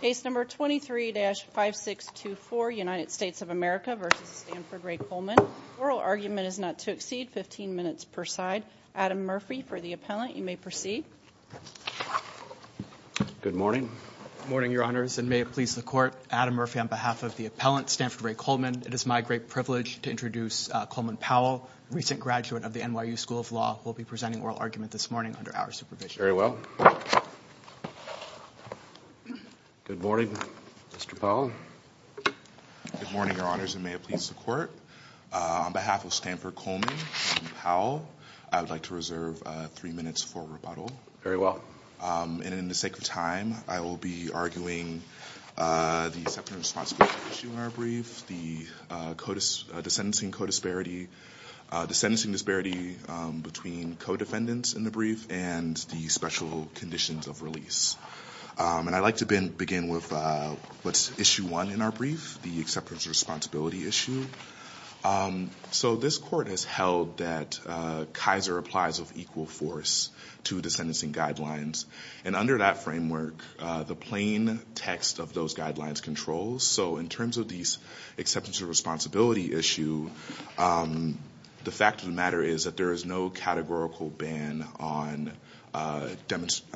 Case number 23-5624, United States of America v. Stanford Ray Coleman. Oral argument is not to exceed 15 minutes per side. Adam Murphy for the appellant. You may proceed. Good morning. Good morning, Your Honors, and may it please the Court. Adam Murphy on behalf of the appellant, Stanford Ray Coleman. It is my great privilege to introduce Coleman Powell, recent graduate of the NYU School of Law, who will be presenting oral argument this morning under our supervision. Very well. Good morning, Mr. Powell. Good morning, Your Honors, and may it please the Court. On behalf of Stanford Coleman and Powell, I would like to reserve three minutes for rebuttal. Very well. And in the sake of time, I will be arguing the second responsibility issue in our brief, the sentencing disparity between co-defendants in the brief and the special conditions of release. And I'd like to begin with issue one in our brief, the acceptance of responsibility issue. So this Court has held that Kaiser applies of equal force to the sentencing guidelines. And under that framework, the plain text of those guidelines controls. So in terms of these acceptance of responsibility issue, the fact of the matter is that there is no categorical ban on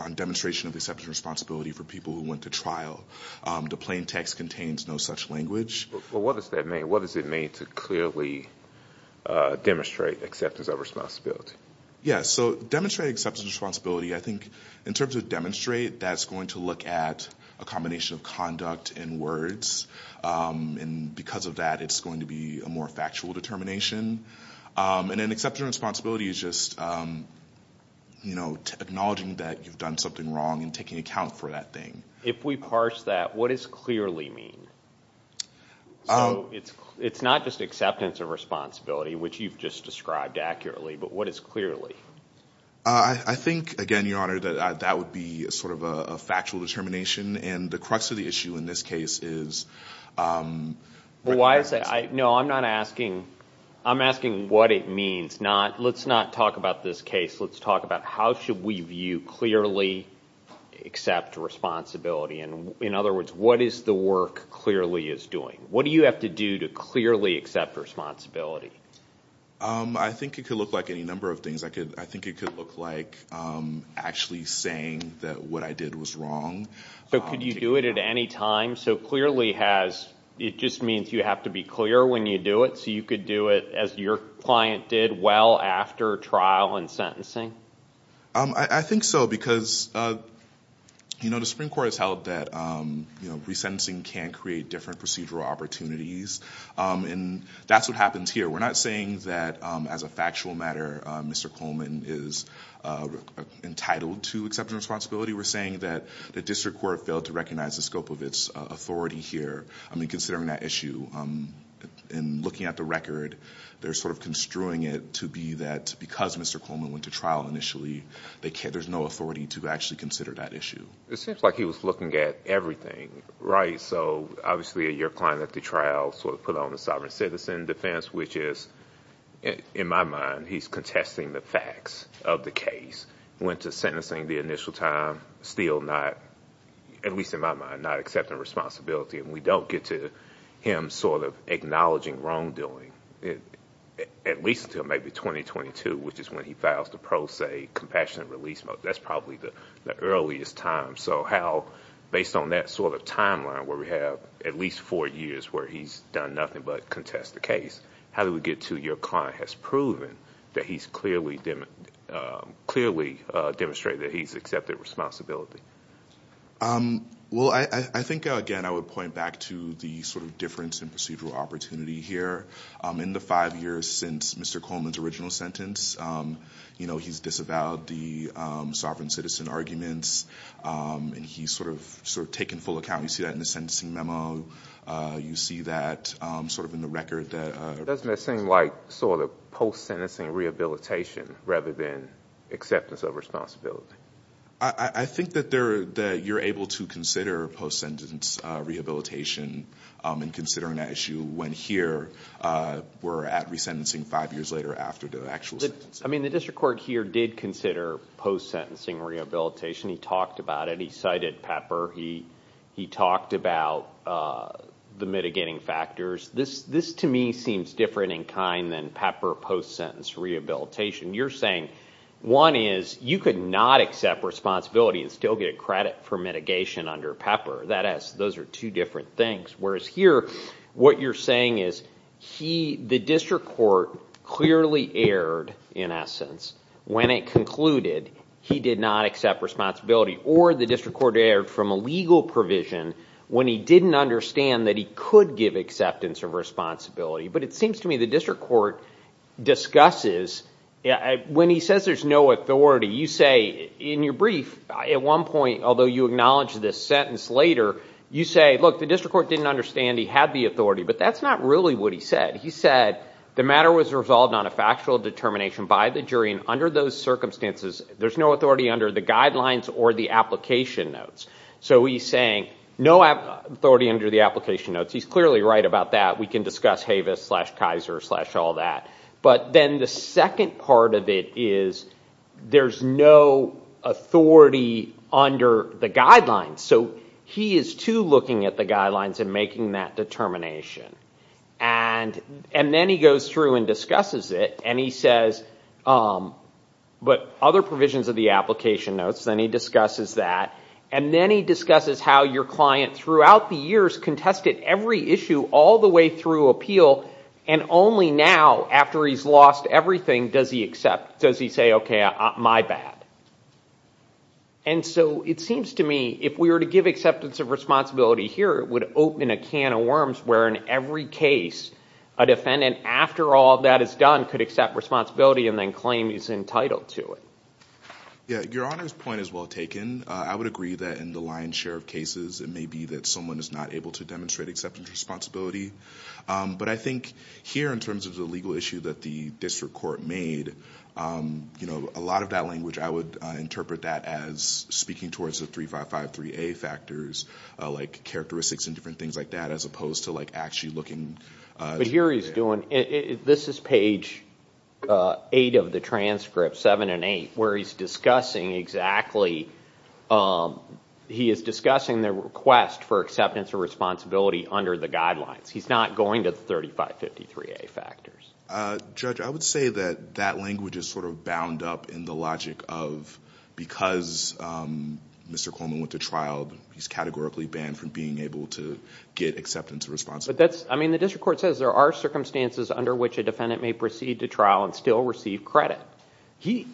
demonstration of acceptance of responsibility for people who went to trial. The plain text contains no such language. Well, what does that mean? What does it mean to clearly demonstrate acceptance of responsibility? Yes. So demonstrate acceptance of responsibility, I think in terms of demonstrate, that's going to look at a combination of conduct and words. And because of that, it's going to be a more factual determination. And then acceptance of responsibility is just acknowledging that you've done something wrong and taking account for that thing. If we parse that, what does clearly mean? So it's not just acceptance of responsibility, which you've just described accurately, but what is clearly? I think, again, Your Honor, that that would be sort of a factual determination. And the crux of the issue in this case is... Why is that? No, I'm not asking... I'm asking what it means. Let's not talk about this case. Let's talk about how should we view clearly accept responsibility. In other words, what is the work clearly is doing? What do you have to do to clearly accept responsibility? I think it could look like any number of things. I think it could look like actually saying that what I did was wrong. So could you do it at any time? So clearly it just means you have to be clear when you do it, so you could do it as your client did well after trial and sentencing? I think so because the Supreme Court has held that resentencing can create different procedural opportunities. And that's what happens here. We're not saying that, as a factual matter, Mr. Coleman is entitled to acceptance of responsibility. We're saying that the district court failed to recognize the scope of its authority here. I mean, considering that issue and looking at the record, they're sort of construing it to be that because Mr. Coleman went to trial initially, there's no authority to actually consider that issue. It seems like he was looking at everything, right? Right. So obviously your client at the trial sort of put on the sovereign citizen defense, which is, in my mind, he's contesting the facts of the case. Went to sentencing the initial time, still not, at least in my mind, not accepting responsibility. And we don't get to him sort of acknowledging wrongdoing, at least until maybe 2022, which is when he files the pro se compassionate release mote. That's probably the earliest time. So how, based on that sort of timeline where we have at least four years where he's done nothing but contest the case, how do we get to your client has proven that he's clearly demonstrated that he's accepted responsibility? Well, I think, again, I would point back to the sort of difference in procedural opportunity here. In the five years since Mr. Coleman's original sentence, you know, he's disavowed the sovereign citizen arguments and he's sort of taken full account. You see that in the sentencing memo. You see that sort of in the record. Doesn't that seem like sort of post sentencing rehabilitation rather than acceptance of responsibility? I think that you're able to consider post sentence rehabilitation and considering that issue when here we're at resentencing five years later after the actual sentence. I mean, the district court here did consider post sentencing rehabilitation. He talked about it. He cited Pepper. He talked about the mitigating factors. This to me seems different in kind than Pepper post sentence rehabilitation. You're saying one is you could not accept responsibility and still get credit for mitigation under Pepper. Those are two different things. Whereas here, what you're saying is the district court clearly erred in essence when it concluded he did not accept responsibility. Or the district court erred from a legal provision when he didn't understand that he could give acceptance of responsibility. But it seems to me the district court discusses when he says there's no authority, you say in your brief at one point, although you acknowledge this sentence later, you say, look, the district court didn't understand he had the authority, but that's not really what he said. He said the matter was resolved on a factual determination by the jury. And under those circumstances, there's no authority under the guidelines or the application notes. So he's saying no authority under the application notes. He's clearly right about that. We can discuss Havis slash Kaiser slash all that. But then the second part of it is there's no authority under the guidelines. So he is too looking at the guidelines and making that determination. And then he goes through and discusses it. And he says, but other provisions of the application notes, then he discusses that. And then he discusses how your client throughout the years contested every issue all the way through appeal. And only now, after he's lost everything, does he accept, does he say, OK, my bad. And so it seems to me if we were to give acceptance of responsibility here, it would open a can of worms where in every case a defendant, after all that is done, could accept responsibility and then claim he's entitled to it. Your Honor's point is well taken. I would agree that in the lion's share of cases, it may be that someone is not able to demonstrate acceptance of responsibility. But I think here, in terms of the legal issue that the district court made, a lot of that language, I would interpret that as speaking towards the 3553A factors, like characteristics and different things like that, as opposed to actually looking. But here he's doing, this is page 8 of the transcript, 7 and 8, where he's discussing exactly, he is discussing the request for acceptance of responsibility under the guidelines. He's not going to the 3553A factors. Judge, I would say that that language is sort of bound up in the logic of because Mr. Coleman went to trial, he's categorically banned from being able to get acceptance of responsibility. But that's, I mean, the district court says there are circumstances under which a defendant may proceed to trial and still receive credit.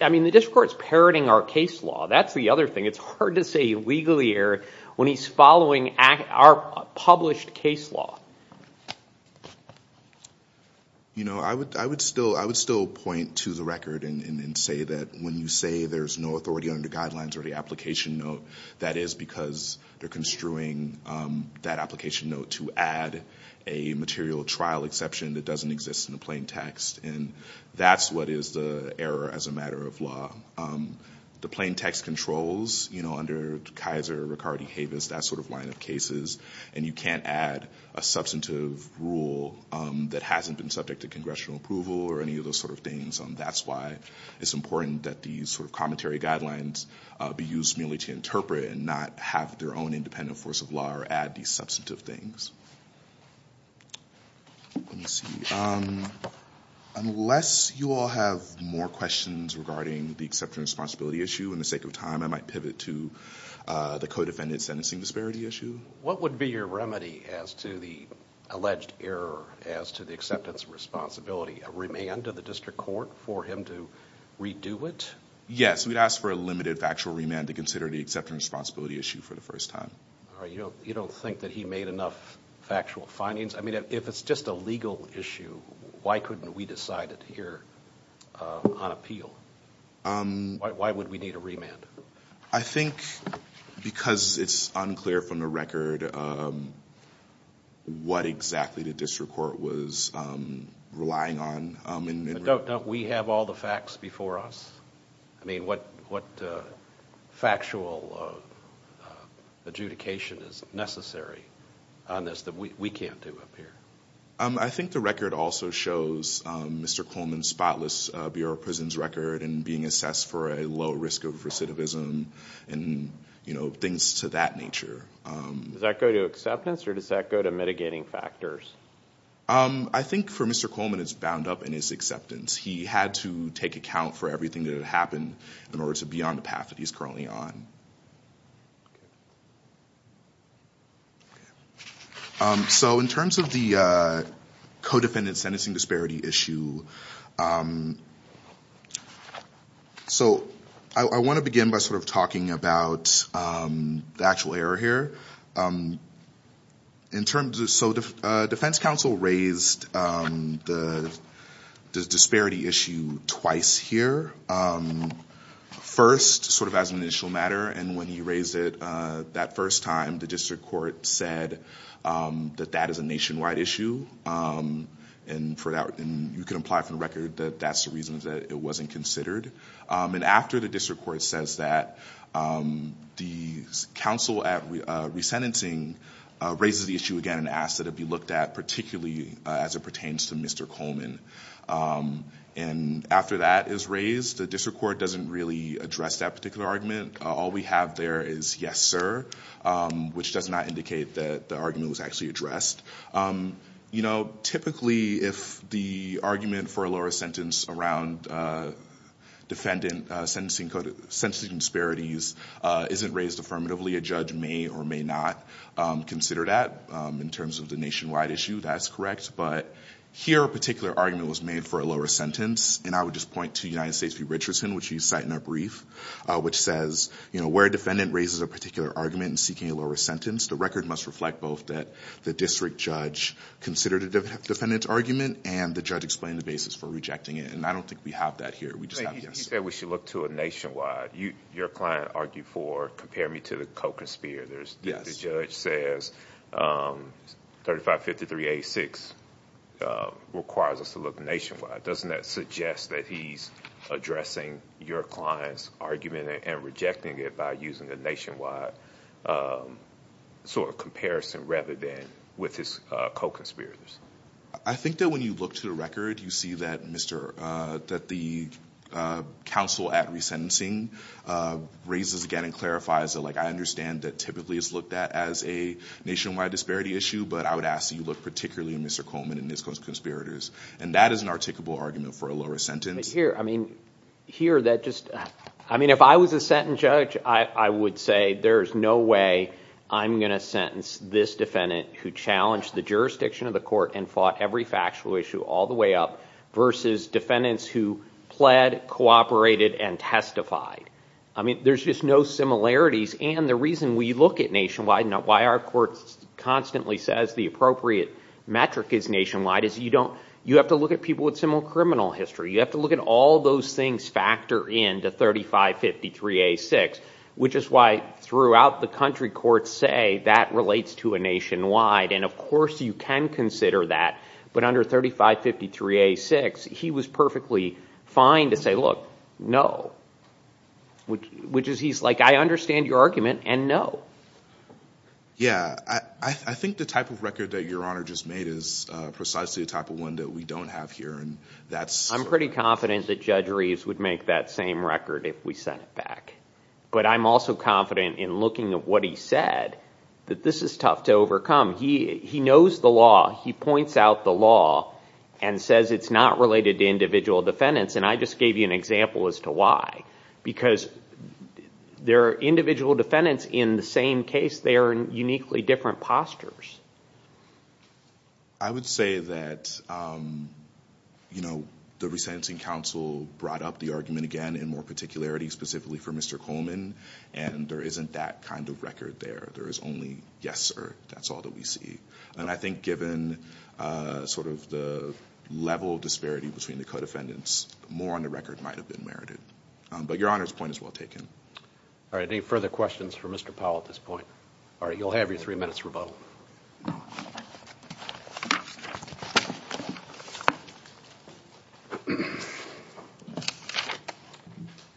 I mean, the district court's parroting our case law. That's the other thing. It's hard to say legally here when he's following our published case law. You know, I would still point to the record and say that when you say there's no authority under guidelines or the application note, that is because they're construing that application note to add a material trial exception that doesn't exist in the plain text. And that's what is the error as a matter of law. The plain text controls, you know, under Kaiser, Riccardi, Havis, that sort of line of cases, and you can't add a substantive rule that hasn't been subject to congressional approval or any of those sort of things. And that's why it's important that these sort of commentary guidelines be used merely to interpret and not have their own independent force of law or add these substantive things. Let me see. Unless you all have more questions regarding the acceptance of responsibility issue, in the sake of time I might pivot to the co-defendant sentencing disparity issue. What would be your remedy as to the alleged error as to the acceptance of responsibility? A remand to the district court for him to redo it? Yes, we'd ask for a limited factual remand to consider the acceptance of responsibility issue for the first time. You don't think that he made enough factual findings? I mean, if it's just a legal issue, why couldn't we decide it here on appeal? Why would we need a remand? I think because it's unclear from the record what exactly the district court was relying on. Don't we have all the facts before us? I mean, what factual adjudication is necessary on this that we can't do up here? I think the record also shows Mr. Coleman's spotless Bureau of Prisons record and being assessed for a low risk of recidivism and things to that nature. Does that go to acceptance or does that go to mitigating factors? I think for Mr. Coleman it's bound up in his acceptance. He had to take account for everything that had happened in order to be on the path that he's currently on. So in terms of the co-defendant sentencing disparity issue, I want to begin by sort of talking about the actual error here. So the defense counsel raised the disparity issue twice here. First, sort of as an initial matter, and when he raised it that first time, the district court said that that is a nationwide issue. And you can apply for the record that that's the reason that it wasn't considered. And after the district court says that, the counsel at resentencing raises the issue again and asks that it be looked at particularly as it pertains to Mr. Coleman. And after that is raised, the district court doesn't really address that particular argument. All we have there is yes, sir, which does not indicate that the argument was actually addressed. Typically, if the argument for a lower sentence around defendant sentencing disparities isn't raised affirmatively, a judge may or may not consider that in terms of the nationwide issue. That's correct. But here, a particular argument was made for a lower sentence. And I would just point to United States v. Richardson, which you cite in our brief, which says where a defendant raises a particular argument in seeking a lower sentence, the record must reflect both that the district judge considered a defendant's argument and the judge explained the basis for rejecting it. And I don't think we have that here. We just have yes, sir. He said we should look to a nationwide. Your client argued for compare me to the co-conspirator. The judge says 3553-86 requires us to look nationwide. Doesn't that suggest that he's addressing your client's argument and rejecting it by using a nationwide sort of comparison rather than with his co-conspirators? I think that when you look to the record, you see that the counsel at resentencing raises again and clarifies that I understand that typically it's looked at as a nationwide disparity issue, but I would ask that you look particularly at Mr. Coleman and his co-conspirators. And that is an articulable argument for a lower sentence. Here, I mean, here that just—I mean, if I was a sentencing judge, I would say there is no way I'm going to sentence this defendant who challenged the jurisdiction of the court and fought every factual issue all the way up versus defendants who pled, cooperated, and testified. I mean, there's just no similarities. And the reason we look at nationwide and why our court constantly says the appropriate metric is nationwide is you don't—you have to look at people with similar criminal history. You have to look at all those things factor in to 3553-86, which is why throughout the country courts say that relates to a nationwide. And, of course, you can consider that. But under 3553-86, he was perfectly fine to say, look, no. Which is he's like, I understand your argument, and no. Yeah, I think the type of record that Your Honor just made is precisely the type of one that we don't have here. And that's— I'm pretty confident that Judge Reeves would make that same record if we sent it back. But I'm also confident in looking at what he said that this is tough to overcome. He knows the law. He points out the law and says it's not related to individual defendants. And I just gave you an example as to why. Because there are individual defendants in the same case. They are in uniquely different postures. I would say that, you know, the resentencing counsel brought up the argument again in more particularity, specifically for Mr. Coleman. And there isn't that kind of record there. There is only, yes, sir, that's all that we see. And I think given sort of the level of disparity between the co-defendants, more on the record might have been merited. But Your Honor's point is well taken. All right. Any further questions for Mr. Powell at this point? All right. You'll have your three minutes rebuttal.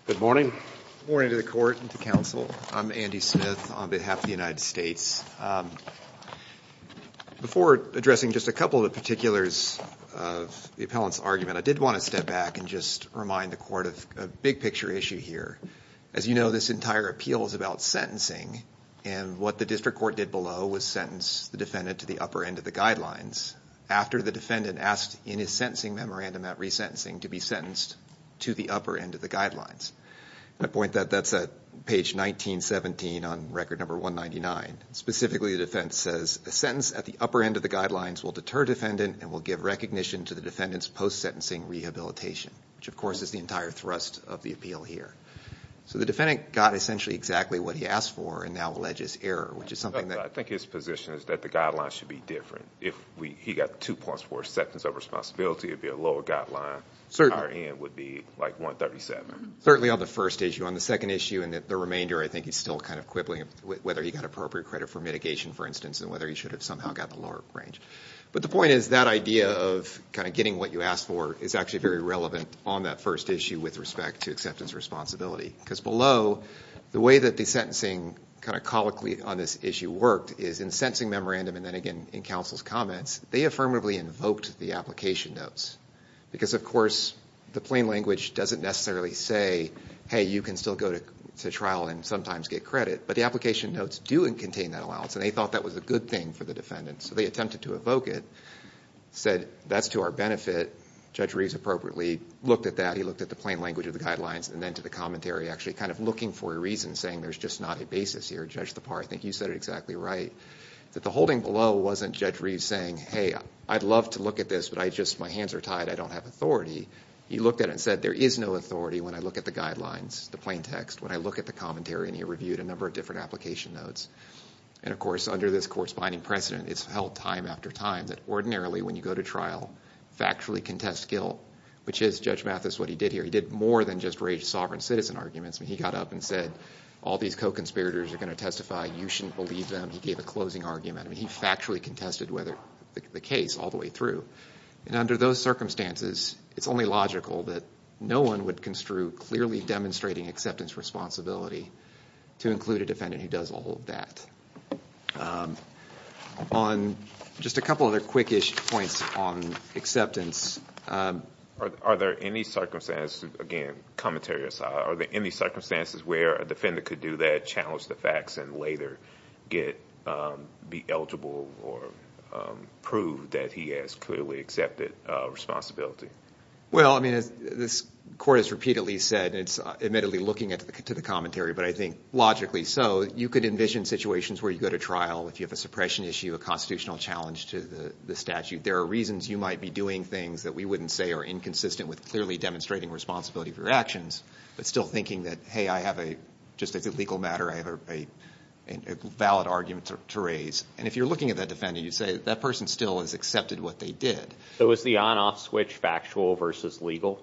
Good morning. Good morning to the Court and to counsel. I'm Andy Smith on behalf of the United States. Before addressing just a couple of the particulars of the appellant's argument, I did want to step back and just remind the Court of a big picture issue here. As you know, this entire appeal is about sentencing. And what the district court did below was sentence the defendant to the upper end of the guidelines after the defendant asked in his sentencing memorandum at resentencing to be sentenced to the upper end of the guidelines. And I point that that's at page 1917 on record number 199. Specifically, the defense says a sentence at the upper end of the guidelines will deter defendant and will give recognition to the defendant's post-sentencing rehabilitation, which of course is the entire thrust of the appeal here. So the defendant got essentially exactly what he asked for and now alleges error, which is something that – I think his position is that the guidelines should be different. If he got two points for a sentence of responsibility, it would be a lower guideline. Certainly. Higher end would be like 137. Certainly on the first issue. On the second issue and the remainder, I think he's still kind of quibbling whether he got appropriate credit for mitigation, for instance, and whether he should have somehow got the lower range. But the point is that idea of kind of getting what you asked for is actually very relevant on that first issue with respect to acceptance of responsibility. Because below, the way that the sentencing kind of colloquially on this issue worked is in the sentencing memorandum and then again in counsel's comments, they affirmatively invoked the application notes. Because of course, the plain language doesn't necessarily say, hey, you can still go to trial and sometimes get credit. But the application notes do contain that allowance and they thought that was a good thing for the defendant. So they attempted to evoke it. Said, that's to our benefit. Judge Reeves appropriately looked at that. He looked at the plain language of the guidelines and then to the commentary, actually kind of looking for a reason, saying there's just not a basis here. Judge Thapar, I think you said it exactly right. That the holding below wasn't Judge Reeves saying, hey, I'd love to look at this, but my hands are tied. I don't have authority. He looked at it and said, there is no authority when I look at the guidelines, the plain text, when I look at the commentary, and he reviewed a number of different application notes. And of course, under this court's binding precedent, it's held time after time that ordinarily when you go to trial, factually contest guilt, which is, Judge Mathis, what he did here, he did more than just raise sovereign citizen arguments. He got up and said, all these co-conspirators are going to testify. You shouldn't believe them. He gave a closing argument. He factually contested the case all the way through. And under those circumstances, it's only logical that no one would construe clearly demonstrating acceptance responsibility to include a defendant who does all of that. On just a couple other quickish points on acceptance. Are there any circumstances, again, commentary aside, are there any circumstances where a defendant could do that, challenge the facts, and later be eligible or prove that he has clearly accepted responsibility? Well, I mean, as this court has repeatedly said, and it's admittedly looking at the commentary, but I think logically so, you could envision situations where you go to trial, if you have a suppression issue, a constitutional challenge to the statute. There are reasons you might be doing things that we wouldn't say are inconsistent with clearly demonstrating responsibility for your actions, but still thinking that, hey, I have a, just as a legal matter, I have a valid argument to raise. And if you're looking at that defendant, you say, that person still has accepted what they did. So is the on-off switch factual versus legal?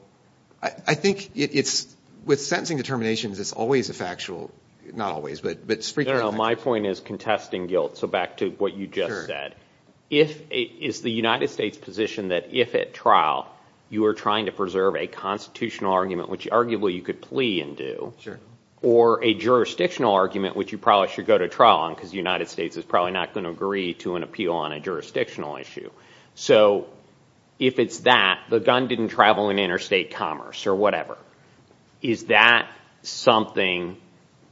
I think it's, with sentencing determinations, it's always a factual, not always, but frequently. No, no, my point is contesting guilt. So back to what you just said. Is the United States' position that if at trial, you are trying to preserve a constitutional argument, which arguably you could plea and do, or a jurisdictional argument, which you probably should go to trial on, because the United States is probably not going to agree to an appeal on a jurisdictional issue. So if it's that, the gun didn't travel in interstate commerce or whatever, is that something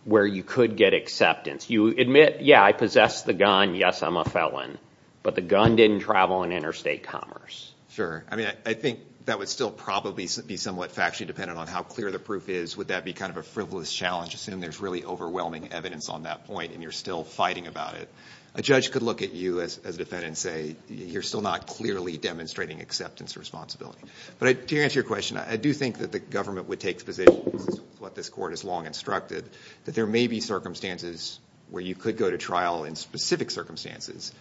where you could get acceptance? You admit, yeah, I possess the gun, yes, I'm a felon, but the gun didn't travel in interstate commerce. Sure. I mean, I think that would still probably be somewhat factually dependent on how clear the proof is. Would that be kind of a frivolous challenge? Assume there's really overwhelming evidence on that point and you're still fighting about it. A judge could look at you, as a defendant, and say, you're still not clearly demonstrating acceptance or responsibility. But to answer your question, I do think that the government would take the position, which is what this Court has long instructed, that there may be circumstances where you could go to trial in specific circumstances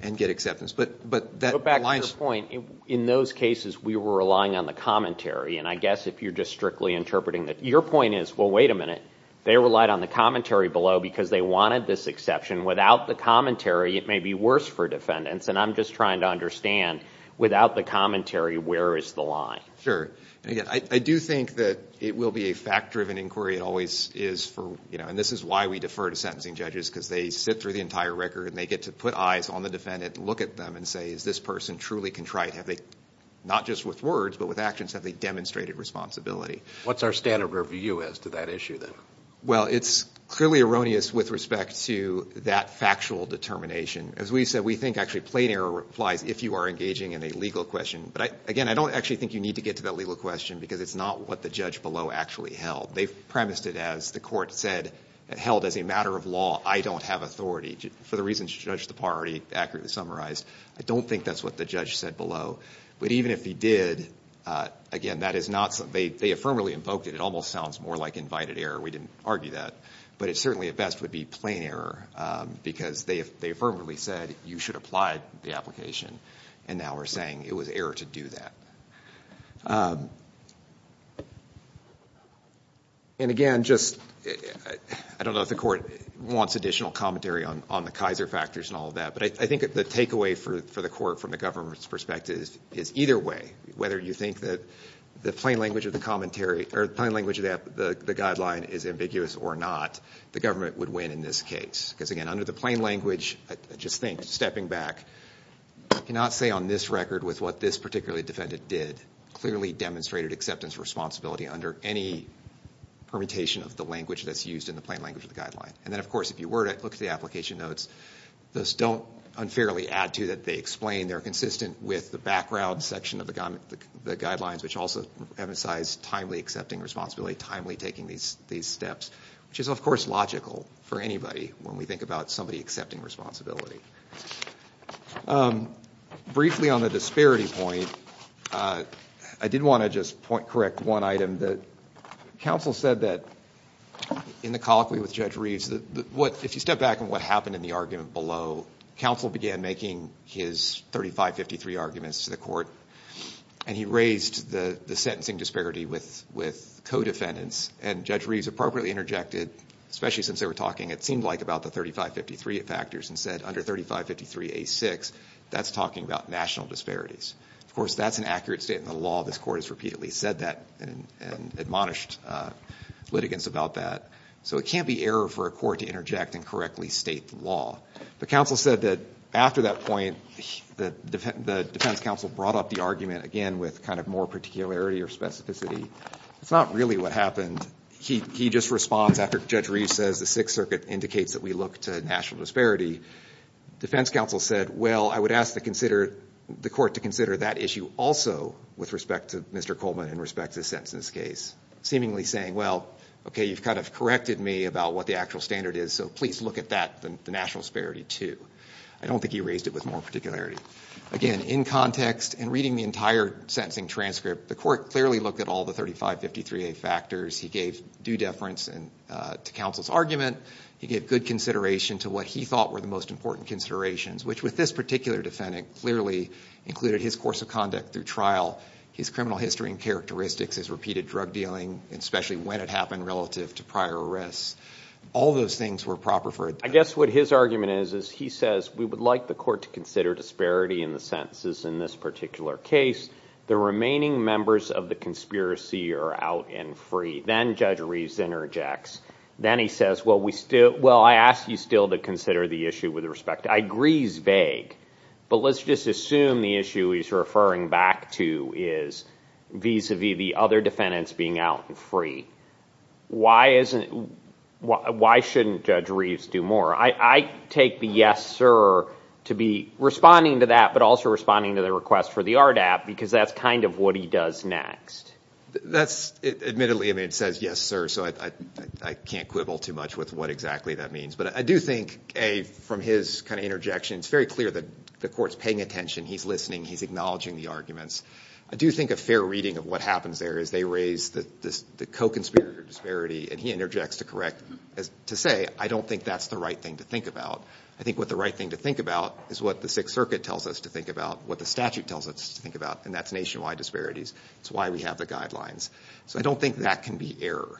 and get acceptance. But back to the point, in those cases, we were relying on the commentary. And I guess if you're just strictly interpreting that, your point is, well, wait a minute, they relied on the commentary below because they wanted this exception. Without the commentary, it may be worse for defendants. And I'm just trying to understand, without the commentary, where is the line? Sure. I do think that it will be a fact-driven inquiry. It always is. And this is why we defer to sentencing judges, because they sit through the entire record and they get to put eyes on the defendant and look at them and say, is this person truly contrite? Have they, not just with words, but with actions, have they demonstrated responsibility? What's our standard review as to that issue, then? Well, it's clearly erroneous with respect to that factual determination. As we said, we think actually plain error applies if you are engaging in a legal question. But, again, I don't actually think you need to get to that legal question because it's not what the judge below actually held. They premised it as the Court said, held as a matter of law, I don't have authority. For the reasons Judge Tappar already accurately summarized, I don't think that's what the judge said below. But even if he did, again, that is not something they affirmatively invoked. It almost sounds more like invited error. We didn't argue that. But it certainly at best would be plain error, because they affirmatively said you should apply the application. And now we're saying it was error to do that. And, again, just I don't know if the Court wants additional commentary on the Kaiser factors and all of that, but I think the takeaway for the Court from the government's perspective is either way, whether you think that the plain language of the commentary or the plain language of the guideline is ambiguous or not, the government would win in this case. Because, again, under the plain language, I just think, stepping back, I cannot say on this record with what this particularly defendant did clearly demonstrated acceptance responsibility under any permutation of the language that's used in the plain language of the guideline. And then, of course, if you were to look at the application notes, those don't unfairly add to that they explain. They're consistent with the background section of the guidelines, which also emphasize timely accepting responsibility, timely taking these steps, which is, of course, logical for anybody when we think about somebody accepting responsibility. Briefly on the disparity point, I did want to just correct one item. The counsel said that in the colloquy with Judge Reeves, if you step back on what happened in the argument below, counsel began making his 3553 arguments to the Court, and he raised the sentencing disparity with co-defendants, and Judge Reeves appropriately interjected, especially since they were talking, it seemed like, about the 3553 factors and said under 3553A6, that's talking about national disparities. Of course, that's an accurate statement of the law. This Court has repeatedly said that and admonished litigants about that. So it can't be error for a court to interject and correctly state the law. The counsel said that after that point, the defense counsel brought up the argument again with kind of more particularity or specificity. It's not really what happened. He just responds after Judge Reeves says the Sixth Circuit indicates that we look to national disparity. Defense counsel said, well, I would ask the court to consider that issue also with respect to Mr. Coleman and respect to his sentence in this case, seemingly saying, well, okay, you've kind of corrected me about what the actual standard is, so please look at that, the national disparity, too. I don't think he raised it with more particularity. Again, in context and reading the entire sentencing transcript, the court clearly looked at all the 3553A factors. He gave due deference to counsel's argument. He gave good consideration to what he thought were the most important considerations, which with this particular defendant clearly included his course of conduct through trial, his criminal history and characteristics, his repeated drug dealing, especially when it happened relative to prior arrests. All those things were proper for a defense. I guess what his argument is is he says we would like the court to consider disparity in the sentences in this particular case. The remaining members of the conspiracy are out and free. Then Judge Reeves interjects. Then he says, well, I ask you still to consider the issue with respect to... I agree he's vague, but let's just assume the issue he's referring back to is vis-a-vis the other defendants being out and free. Why shouldn't Judge Reeves do more? I take the yes, sir to be responding to that but also responding to the request for the RDAP because that's kind of what he does next. Admittedly, it says yes, sir, so I can't quibble too much with what exactly that means. But I do think, A, from his kind of interjection, it's very clear that the court's paying attention, he's listening, he's acknowledging the arguments. I do think a fair reading of what happens there is they raise the co-conspirator disparity and he interjects to say, I don't think that's the right thing to think about. I think what the right thing to think about is what the Sixth Circuit tells us to think about, what the statute tells us to think about, and that's nationwide disparities. It's why we have the guidelines. So I don't think that can be error.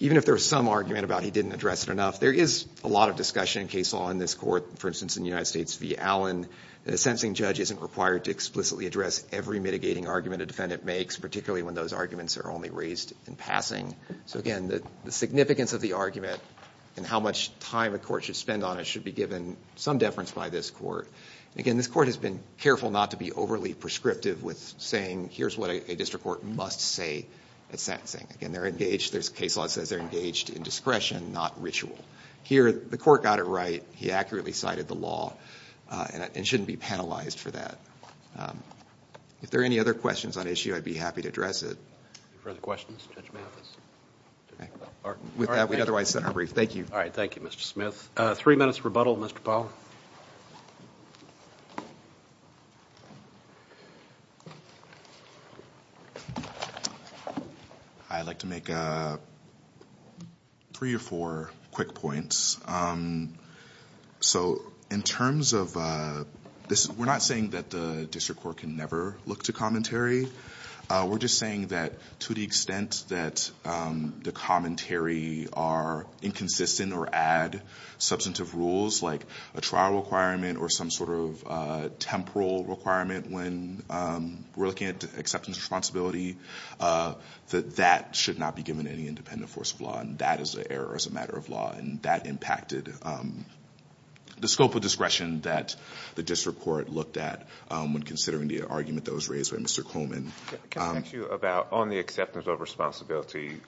Even if there's some argument about he didn't address it enough, there is a lot of discussion in case law in this court. For instance, in the United States v. Allen, a sentencing judge isn't required to explicitly address every mitigating argument a defendant makes, particularly when those arguments are only raised in passing. So again, the significance of the argument and how much time a court should spend on it should be given some deference by this court. Again, this court has been careful not to be overly prescriptive with saying, here's what a district court must say at sentencing. Again, there's a case law that says they're engaged in discretion, not ritual. Here, the court got it right. He accurately cited the law and shouldn't be penalized for that. If there are any other questions on issue, I'd be happy to address it. Any further questions? With that, we'd otherwise set our brief. Thank you. All right, thank you, Mr. Smith. Three minutes rebuttal, Mr. Powell. I'd like to make three or four quick points. So in terms of this, we're not saying that the district court can never look to commentary. We're just saying that to the extent that the commentary are inconsistent or add substantive rules like a trial requirement or some sort of temporal requirement when we're looking at acceptance of responsibility, that that should not be given any independent force of law, and that is an error as a matter of law, and that impacted the scope of discretion that the district court looked at when considering the argument that was raised by Mr. Coleman. Can I ask you about on the acceptance of responsibility,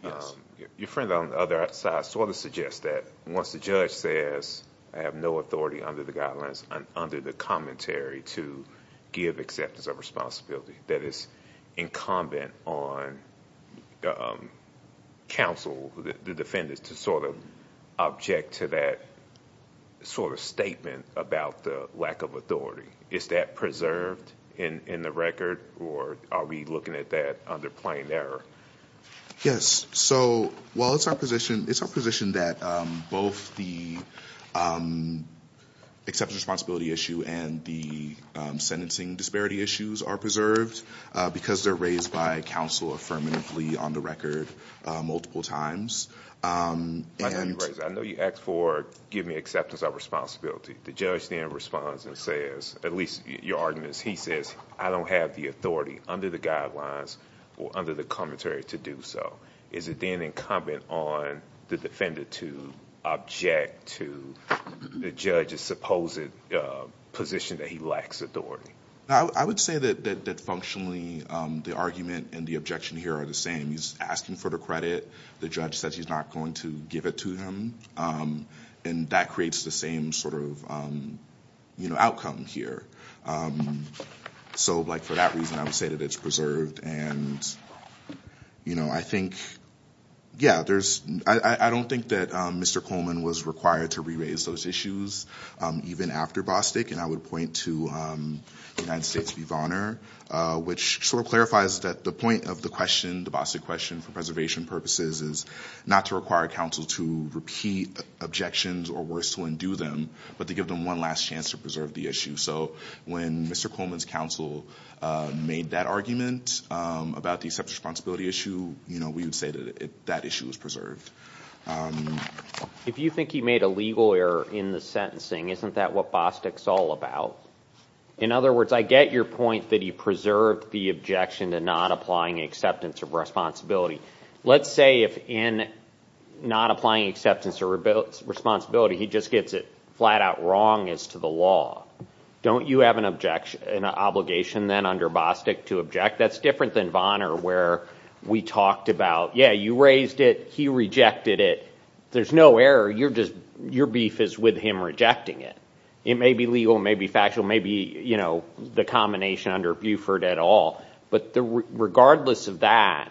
your friend on the other side sort of suggests that once the judge says, I have no authority under the guidelines and under the commentary to give acceptance of responsibility, that it's incumbent on counsel, the defendants, to sort of object to that sort of statement about the lack of authority. Is that preserved in the record, or are we looking at that under plain error? Yes. So while it's our position, it's our position that both the acceptance of responsibility issue and the sentencing disparity issues are preserved because they're raised by counsel affirmatively on the record multiple times. I know you asked for giving acceptance of responsibility. The judge then responds and says, at least your argument is he says, I don't have the authority under the guidelines or under the commentary to do so. Is it then incumbent on the defendant to object to the judge's supposed position that he lacks authority? I would say that functionally the argument and the objection here are the same. He's asking for the credit. The judge says he's not going to give it to him, and that creates the same sort of outcome here. So for that reason, I would say that it's preserved. I don't think that Mr. Coleman was required to re-raise those issues even after Bostick, and I would point to United States v. Bonner, which sort of clarifies that the point of the question, the Bostick question for preservation purposes, is not to require counsel to repeat objections or worse to undo them, but to give them one last chance to preserve the issue. So when Mr. Coleman's counsel made that argument about the acceptance of responsibility issue, we would say that that issue is preserved. If you think he made a legal error in the sentencing, isn't that what Bostick's all about? In other words, I get your point that he preserved the objection to not applying acceptance of responsibility. Let's say if in not applying acceptance of responsibility he just gets it flat out wrong as to the law. Don't you have an obligation then under Bostick to object? That's different than Bonner where we talked about, yeah, you raised it, he rejected it. There's no error. Your beef is with him rejecting it. It may be legal, it may be factual, it may be the combination under Buford et al. But regardless of that,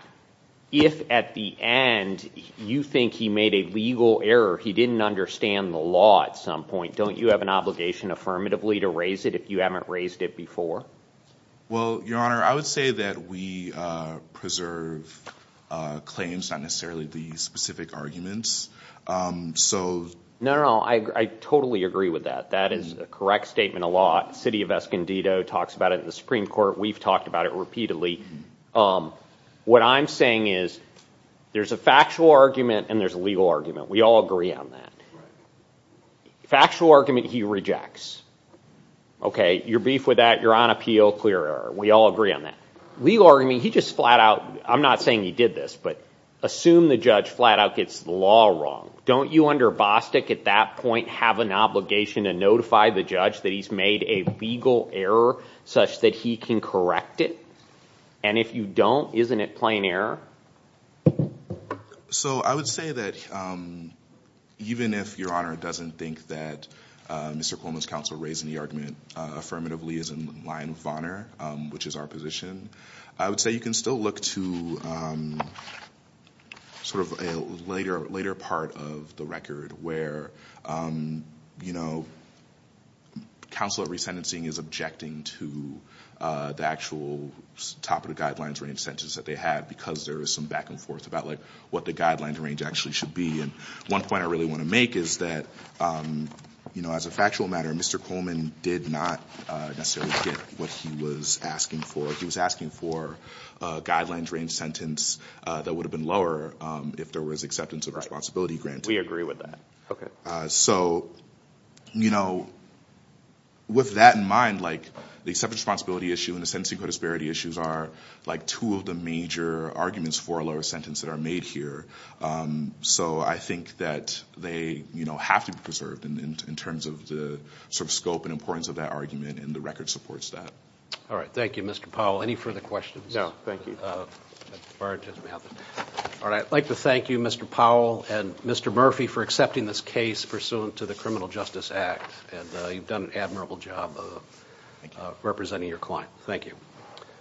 if at the end you think he made a legal error, he didn't understand the law at some point, don't you have an obligation affirmatively to raise it if you haven't raised it before? Well, Your Honor, I would say that we preserve claims, not necessarily the specific arguments. No, no, I totally agree with that. That is a correct statement of law. The city of Escondido talks about it in the Supreme Court. We've talked about it repeatedly. What I'm saying is there's a factual argument and there's a legal argument. We all agree on that. Factual argument, he rejects. Okay, your beef with that, Your Honor, appeal, clear error. We all agree on that. Legal argument, he just flat out, I'm not saying he did this, but assume the judge flat out gets the law wrong. Don't you under Bostick at that point have an obligation to notify the judge that he's made a legal error such that he can correct it? And if you don't, isn't it plain error? So I would say that even if Your Honor doesn't think that Mr. Cuomo's counsel raising the argument affirmatively is in line of honor, which is our position, I would say you can still look to sort of a later part of the record where counsel resentencing is objecting to the actual top of the guidelines range sentence that they have because there is some back and forth about what the guidelines range actually should be. And one point I really want to make is that as a factual matter, Mr. Coleman did not necessarily get what he was asking for. He was asking for a guidelines range sentence that would have been lower if there was acceptance of responsibility granted. We agree with that. So, you know, with that in mind, like the acceptance of responsibility issue and the sentencing codisparity issues are like two of the major arguments for a lower sentence that are made here. So I think that they, you know, have to be preserved in terms of the sort of scope and importance of that argument and the record supports that. All right. Thank you, Mr. Powell. Any further questions? No, thank you. All right. I'd like to thank you, Mr. Powell and Mr. Murphy for accepting this case pursuant to the criminal justice act. And you've done an admirable job of representing your client. Thank you.